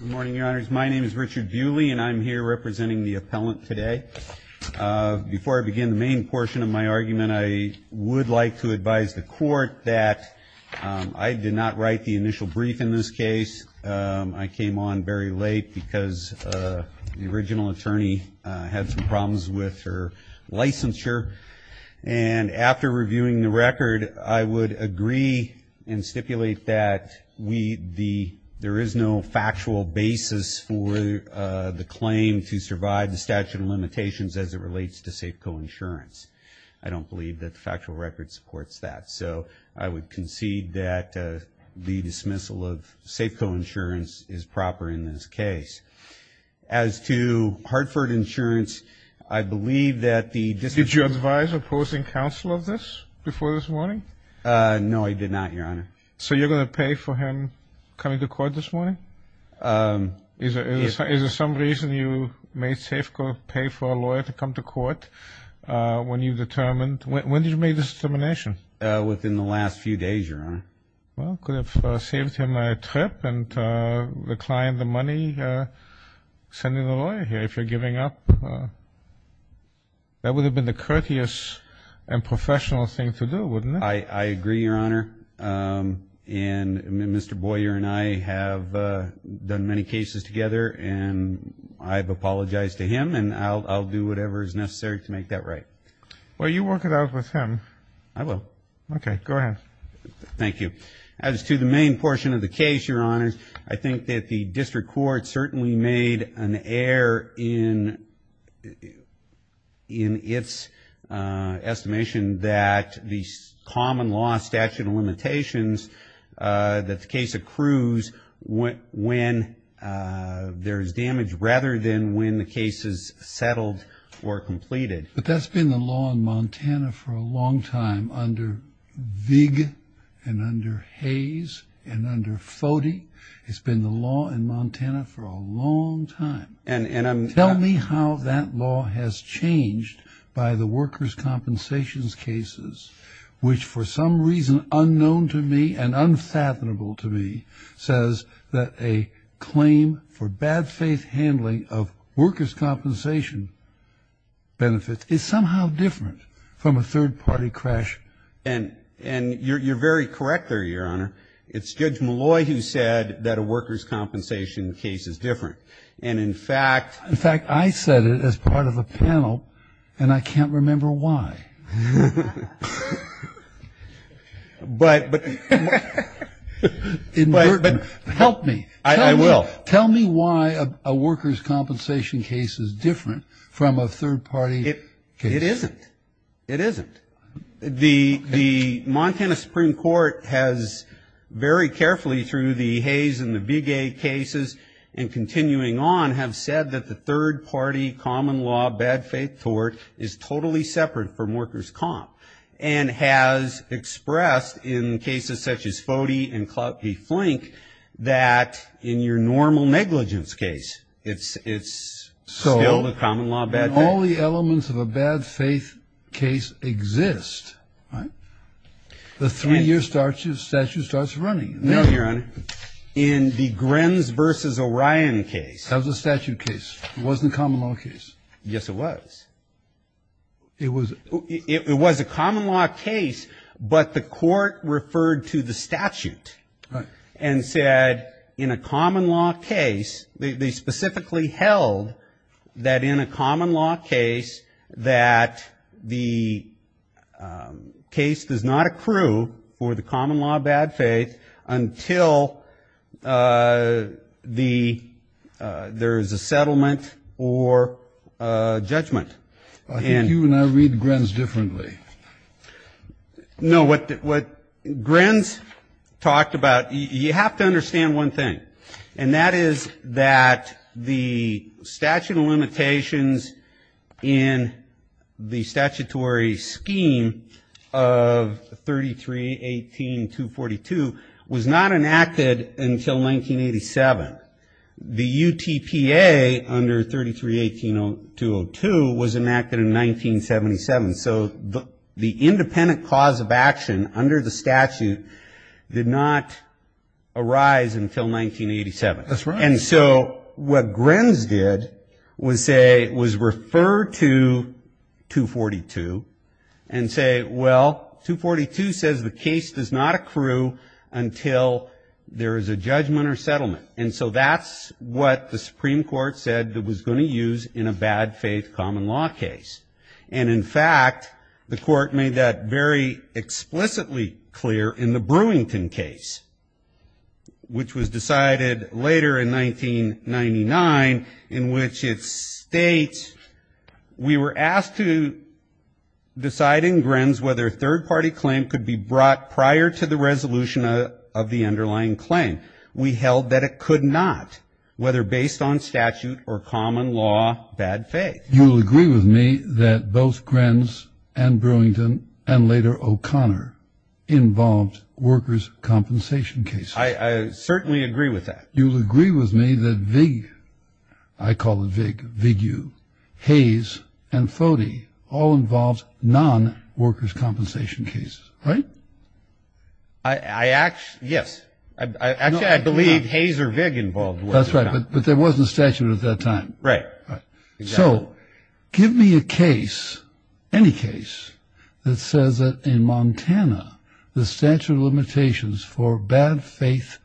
Good morning, Your Honors. My name is Richard Bewley, and I'm here representing the appellant today. Before I begin the main portion of my argument, I would like to advise the court that I did not write the initial brief in this case. I came on very late because the original attorney had some problems with her licensure. And after reviewing the record, I would agree and stipulate that there is no factual basis for the claim to survive the statute of limitations as it relates to Safeco Insurance. I don't believe that the factual record supports that. So I would concede that the dismissal of Safeco Insurance is proper in this case. As to Hartford Insurance, I believe that the dismissal... Did you advise opposing counsel of this before this morning? No, I did not, Your Honor. So you're going to pay for him coming to court this morning? Yes. Is there some reason you made Safeco pay for a lawyer to come to court when you determined... When did you make this determination? Within the last few days, Your Honor. Well, could have saved him a trip and reclined the money, sending the lawyer here if you're giving up. That would have been the courteous and professional thing to do, wouldn't it? I agree, Your Honor. And Mr. Boyer and I have done many cases together, and I've apologized to him, and I'll do whatever is necessary to make that right. Well, you work it out with him. I will. Okay, go ahead. Thank you. As to the main portion of the case, Your Honors, I think that the district court certainly made an error in its estimation that the common law statute of limitations that the case accrues when there is damage rather than when the case is settled or completed. But that's been the law in Montana for a long time under Vig and under Hayes and under Foti. It's been the law in Montana for a long time. And I'm... Tell me how that law has changed by the workers' compensations cases, which for some reason unknown to me and unfathomable to me, says that a claim for bad faith handling of workers' compensation benefits is somehow different from a third-party crash. And you're very correct there, Your Honor. It's Judge Malloy who said that a workers' compensation case is different. And in fact... In fact, I said it as part of a panel, and I can't remember why. But... In Burton. Help me. I will. Tell me why a workers' compensation case is different from a third-party case. It isn't. It isn't. The Montana Supreme Court has very carefully through the Hayes and the Vig cases and continuing on, have said that the third-party common law bad faith tort is totally separate from workers' comp. And has expressed in cases such as Foti and Klaupte Flink that in your normal negligence case, it's still the common law bad faith. So when all the elements of a bad faith case exist, the three-year statute starts running. No, Your Honor. In the Grenz v. Orion case. That was a statute case. It wasn't a common law case. Yes, it was. It was. It was a common law case, but the court referred to the statute. Right. And said in a common law case, they specifically held that in a common law case, that the case does not accrue for the common law bad faith until there is a settlement or judgment. I think you and I read Grenz differently. No, what Grenz talked about, you have to understand one thing. And that is that the statute of limitations in the statutory scheme of 33-18-242 was not enacted until 1987. The UTPA under 33-18-202 was enacted in 1977. So the independent cause of action under the statute did not arise until 1987. That's right. And so what Grenz did was say, was refer to 242 and say, well, 242 says the case does not accrue until there is a judgment or settlement. And so that's what the Supreme Court said it was going to use in a bad faith common law case. And, in fact, the court made that very explicitly clear in the Brewington case, which was decided later in 1999, in which it states, we were asked to decide in Grenz whether a third-party claim could be brought prior to the resolution of the underlying claim. We held that it could not, whether based on statute or common law bad faith. You'll agree with me that both Grenz and Brewington and later O'Connor involved workers' compensation cases. I certainly agree with that. You'll agree with me that Vig, I call it Vig, Vig you, Hayes and Fody all involved non-workers' compensation cases, right? I actually, yes. Actually, I believe Hayes or Vig involved workers' compensation. That's right. But there wasn't a statute at that time. Right. So give me a case, any case, that says that in Montana the statute of limitations for bad faith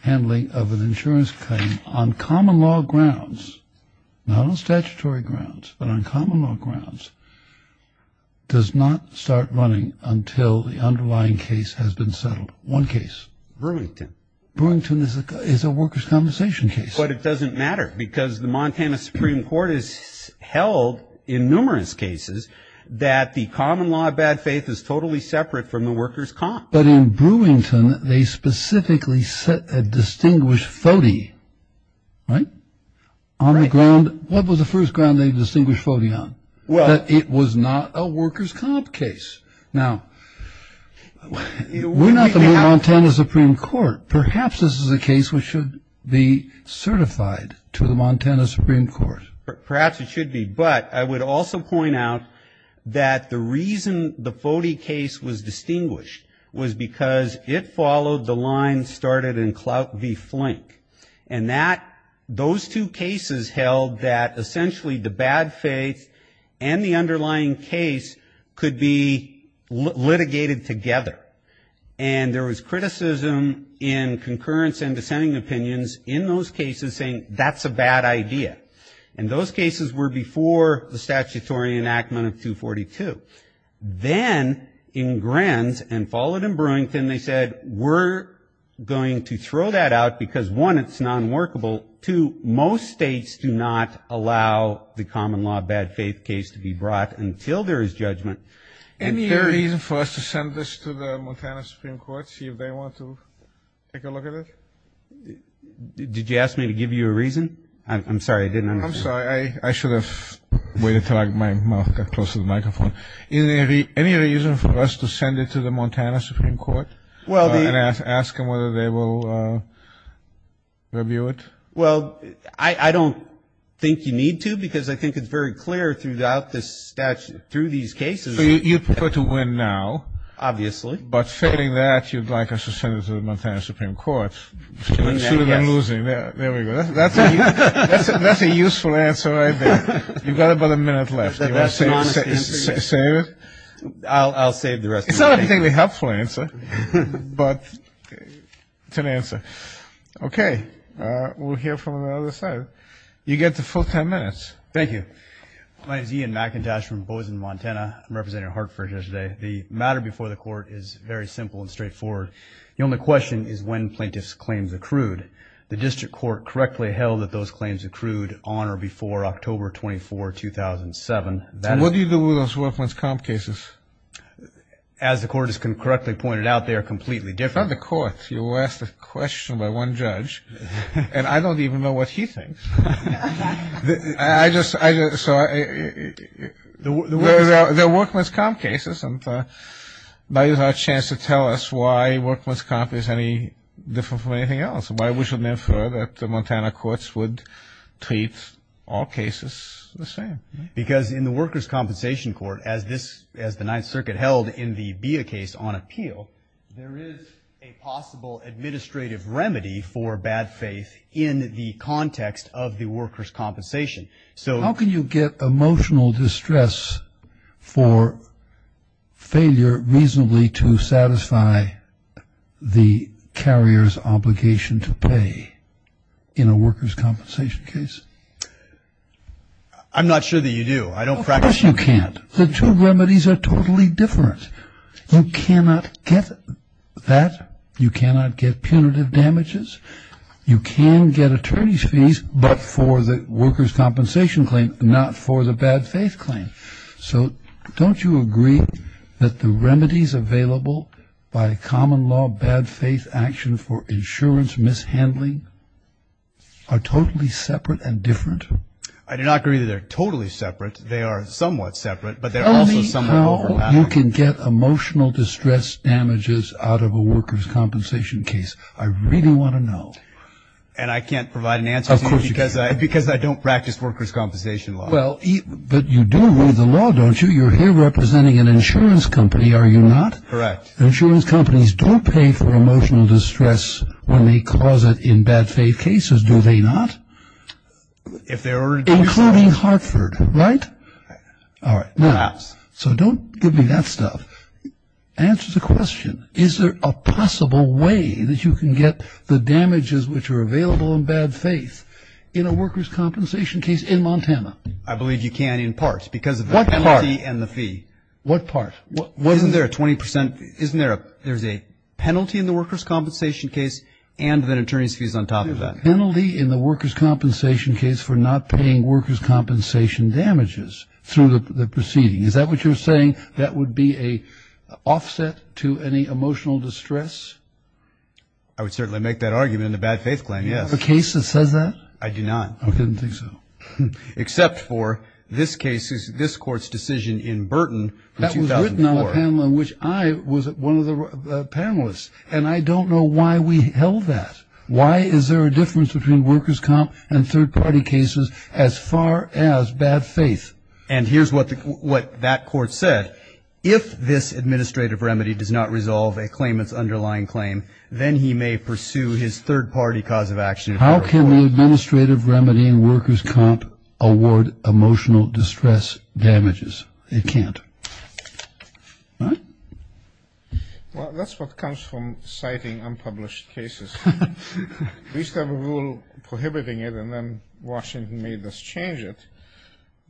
handling of an insurance claim on common law grounds, not on statutory grounds, but on common law grounds, does not start running until the underlying case has been settled. One case. Brewington. Brewington is a workers' compensation case. But it doesn't matter because the Montana Supreme Court has held in numerous cases that the common law of bad faith is totally separate from the workers' comp. But in Brewington, they specifically set a distinguished Fody, right, on the ground. What was the first ground they distinguished Fody on? That it was not a workers' comp case. Now, we're not the Montana Supreme Court. Perhaps this is a case which should be certified to the Montana Supreme Court. Perhaps it should be. But I would also point out that the reason the Fody case was distinguished was because it followed the line started in Clout v. Flink. And that, those two cases held that essentially the bad faith and the underlying case could be litigated together. And there was criticism in concurrence and dissenting opinions in those cases saying that's a bad idea. And those cases were before the statutory enactment of 242. Then in Grenz and followed in Brewington, they said we're going to throw that out because, one, it's non-workable. Two, most states do not allow the common law of bad faith case to be brought until there is judgment. Any reason for us to send this to the Montana Supreme Court, see if they want to take a look at it? Did you ask me to give you a reason? I'm sorry, I didn't understand. I'm sorry. I should have waited until I got my mouth close to the microphone. Any reason for us to send it to the Montana Supreme Court and ask them whether they will review it? Well, I don't think you need to, because I think it's very clear throughout this statute, through these cases. So you prefer to win now. Obviously. But failing that, you'd like us to send it to the Montana Supreme Court. There we go. That's a useful answer right there. You've got about a minute left. Save it? I'll save the rest of it. It's not a very helpful answer, but it's an answer. Okay, we'll hear from the other side. You get the full ten minutes. Thank you. My name is Ian McIntosh from Bozen, Montana. I'm representing Hartford here today. The matter before the Court is very simple and straightforward. The only question is when plaintiffs' claims accrued. The District Court correctly held that those claims accrued on or before October 24, 2007. So what do you do with those workman's comp cases? As the Court has correctly pointed out, they are completely different. They're from the Court. You ask a question by one judge, and I don't even know what he thinks. So they're workman's comp cases, and now you have a chance to tell us why workman's comp is any different from anything else. Why would you infer that the Montana courts would treat all cases the same? Because in the Worker's Compensation Court, as the Ninth Circuit held in the BIA case on appeal, there is a possible administrative remedy for bad faith in the context of the worker's compensation. How can you get emotional distress for failure reasonably to satisfy the carrier's obligation to the employer? Do you have to pay in a worker's compensation case? I'm not sure that you do. I don't practice it. Of course you can't. The two remedies are totally different. You cannot get that. You cannot get punitive damages. You can get attorney's fees, but for the worker's compensation claim, not for the bad faith claim. So don't you agree that the remedies available by common law bad faith action for insurance mishandling are totally separate and different? I do not agree that they're totally separate. They are somewhat separate, but they're also somewhat overlapping. Only how you can get emotional distress damages out of a worker's compensation case, I really want to know. And I can't provide an answer to you because I don't practice worker's compensation law. Well, but you do read the law, don't you? You're here representing an insurance company, are you not? Correct. Insurance companies don't pay for emotional distress when they cause it in bad faith cases, do they not? Including Hartford, right? All right. Perhaps. So don't give me that stuff. Answer the question. Is there a possible way that you can get the damages which are available in bad faith in a worker's compensation case in Montana? I believe you can in parts because of the penalty and the fee. What part? Isn't there a 20%? Isn't there a penalty in the worker's compensation case and then attorney's fees on top of that? There's a penalty in the worker's compensation case for not paying worker's compensation damages through the proceeding. Is that what you're saying? That would be an offset to any emotional distress? I would certainly make that argument in a bad faith claim, yes. The case that says that? I do not. I didn't think so. Except for this court's decision in Burton in 2004. That was written on a panel in which I was one of the panelists. And I don't know why we held that. Why is there a difference between worker's comp and third party cases as far as bad faith? And here's what that court said. If this administrative remedy does not resolve a claimant's underlying claim, then he may pursue his third party cause of action. How can the administrative remedy in worker's comp award emotional distress damages? It can't. Well, that's what comes from citing unpublished cases. We used to have a rule prohibiting it and then Washington made us change it.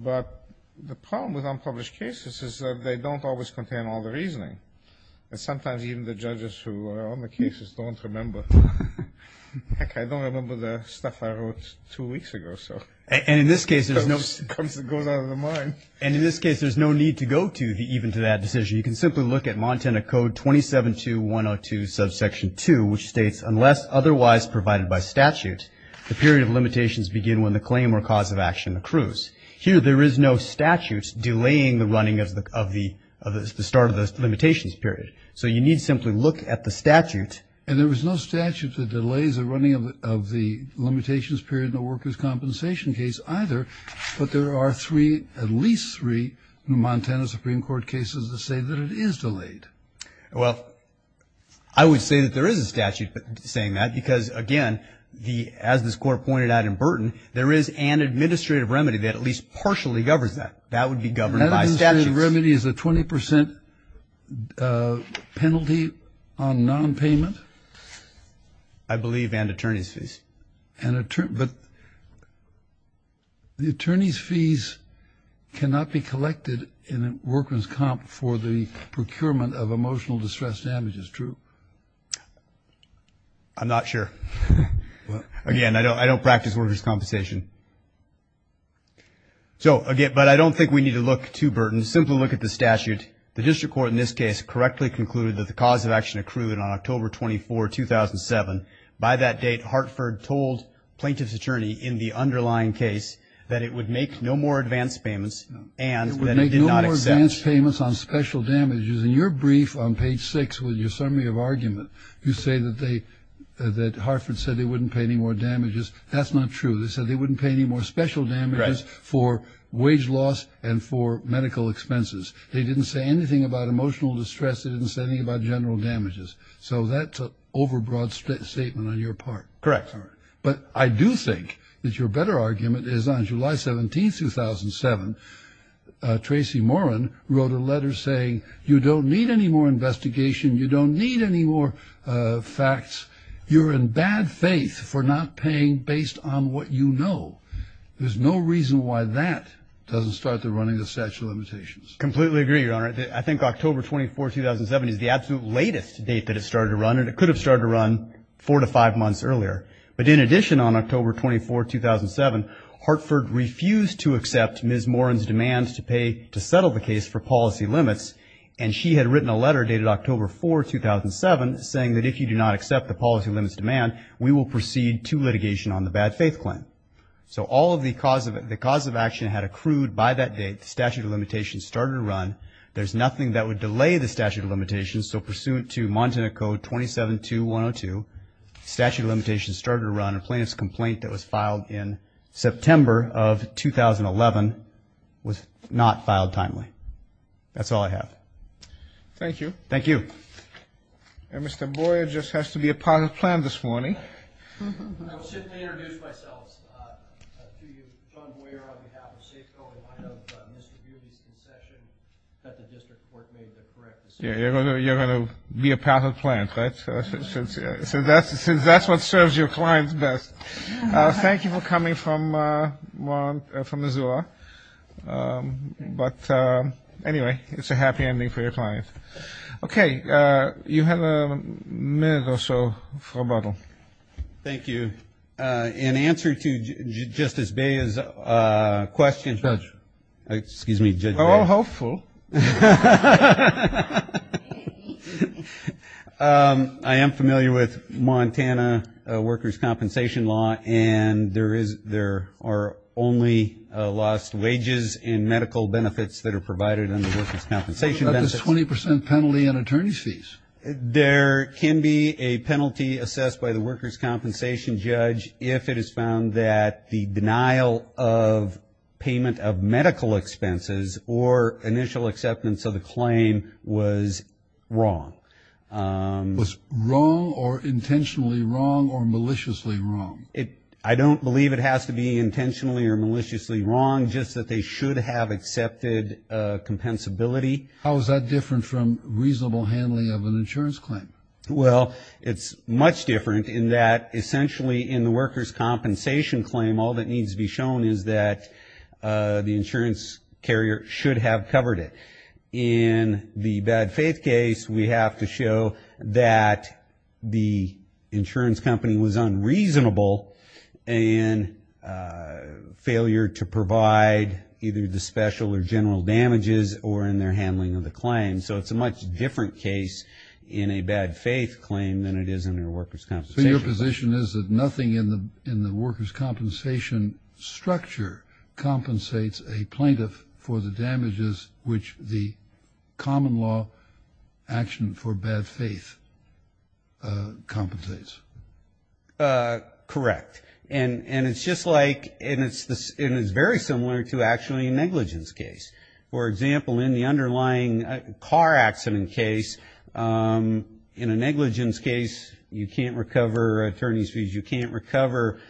But the problem with unpublished cases is that they don't always contain all the reasoning. And sometimes even the judges who are on the cases don't remember. Heck, I don't remember the stuff I wrote two weeks ago. And in this case, there's no need to go to even to that decision. You can simply look at Montana Code 272102, subsection 2, which states unless otherwise provided by statute, the period of limitations begin when the claim or cause of action accrues. Here, there is no statute delaying the running of the start of the limitations period. So you need to simply look at the statute. And there was no statute that delays the running of the limitations period in the worker's compensation case either, but there are three, at least three, Montana Supreme Court cases that say that it is delayed. Well, I would say that there is a statute saying that because, again, as this court pointed out in Burton, there is an administrative remedy that at least partially governs that. That would be governed by statutes. An administrative remedy is a 20 percent penalty on nonpayment. I believe and attorney's fees. But the attorney's fees cannot be collected in a worker's comp for the procurement of emotional distress damages, true? I'm not sure. Again, I don't practice worker's compensation. So, again, but I don't think we need to look too, Burton. Simply look at the statute. The district court in this case correctly concluded that the cause of action accrued on October 24, 2007. By that date, Hartford told plaintiff's attorney in the underlying case that it would make no more advance payments and that it did not accept. It would make no more advance payments on special damages. In your brief on page six with your summary of argument, you say that Hartford said they wouldn't pay any more damages. That's not true. They said they wouldn't pay any more special damages for wage loss and for medical expenses. They didn't say anything about emotional distress. They didn't say anything about general damages. So that's an overbroad statement on your part. Correct. But I do think that your better argument is on July 17, 2007, Tracy Morin wrote a letter saying you don't need any more investigation. You don't need any more facts. You're in bad faith for not paying based on what you know. There's no reason why that doesn't start the running of statute of limitations. Completely agree, Your Honor. I think October 24, 2007 is the absolute latest date that it started to run. And it could have started to run four to five months earlier. But in addition, on October 24, 2007, Hartford refused to accept Ms. Morin's demand to pay to settle the case for policy limits. And she had written a letter dated October 4, 2007, saying that if you do not accept the policy limits demand, we will proceed to litigation on the bad faith claim. So all of the cause of action had accrued by that date. The statute of limitations started to run. There's nothing that would delay the statute of limitations. So pursuant to Montana Code 27.2.102, statute of limitations started to run, and plaintiff's complaint that was filed in September of 2011 was not filed timely. That's all I have. Thank you. Thank you. And Mr. Boyer just has to be a part of the plan this morning. I will sit and introduce myself to you. John Boyer on behalf of Safeco, in light of Mr. Yulee's concession that the district court made the correct decision. You're going to be a part of the plan, right? So that's what serves your clients best. Thank you for coming from Missoula. But anyway, it's a happy ending for your clients. Okay. You have a minute or so for rebuttal. Thank you. In answer to Justice Bayer's question. Judge. Excuse me, Judge Bayer. So hopeful. I am familiar with Montana workers' compensation law, and there are only lost wages and medical benefits that are provided under workers' compensation benefits. What about the 20 percent penalty on attorney's fees? There can be a penalty assessed by the workers' compensation judge if it is found that the denial of payment of or initial acceptance of the claim was wrong. Was wrong or intentionally wrong or maliciously wrong? I don't believe it has to be intentionally or maliciously wrong, just that they should have accepted compensability. How is that different from reasonable handling of an insurance claim? Well, it's much different in that essentially in the workers' compensation claim, all that needs to be shown is that the insurance carrier should have covered it. In the bad faith case, we have to show that the insurance company was unreasonable in failure to provide either the special or general damages or in their handling of the claim. So it's a much different case in a bad faith claim than it is in their workers' compensation claim. So your position is that nothing in the workers' compensation structure compensates a plaintiff for the damages which the common law action for bad faith compensates? Correct. And it's just like, and it's very similar to actually a negligence case. For example, in the underlying car accident case, in a negligence case, you can't recover attorney's fees. You can't recover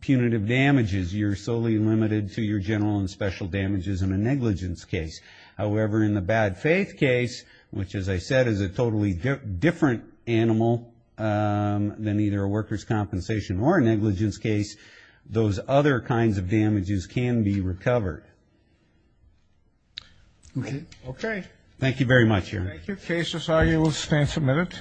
punitive damages. You're solely limited to your general and special damages in a negligence case. However, in the bad faith case, which, as I said, is a totally different animal than either a workers' compensation or a negligence case, those other kinds of damages can be recovered. Okay. Thank you very much, Aaron. Thank you. The case is argued. We'll stand for a minute.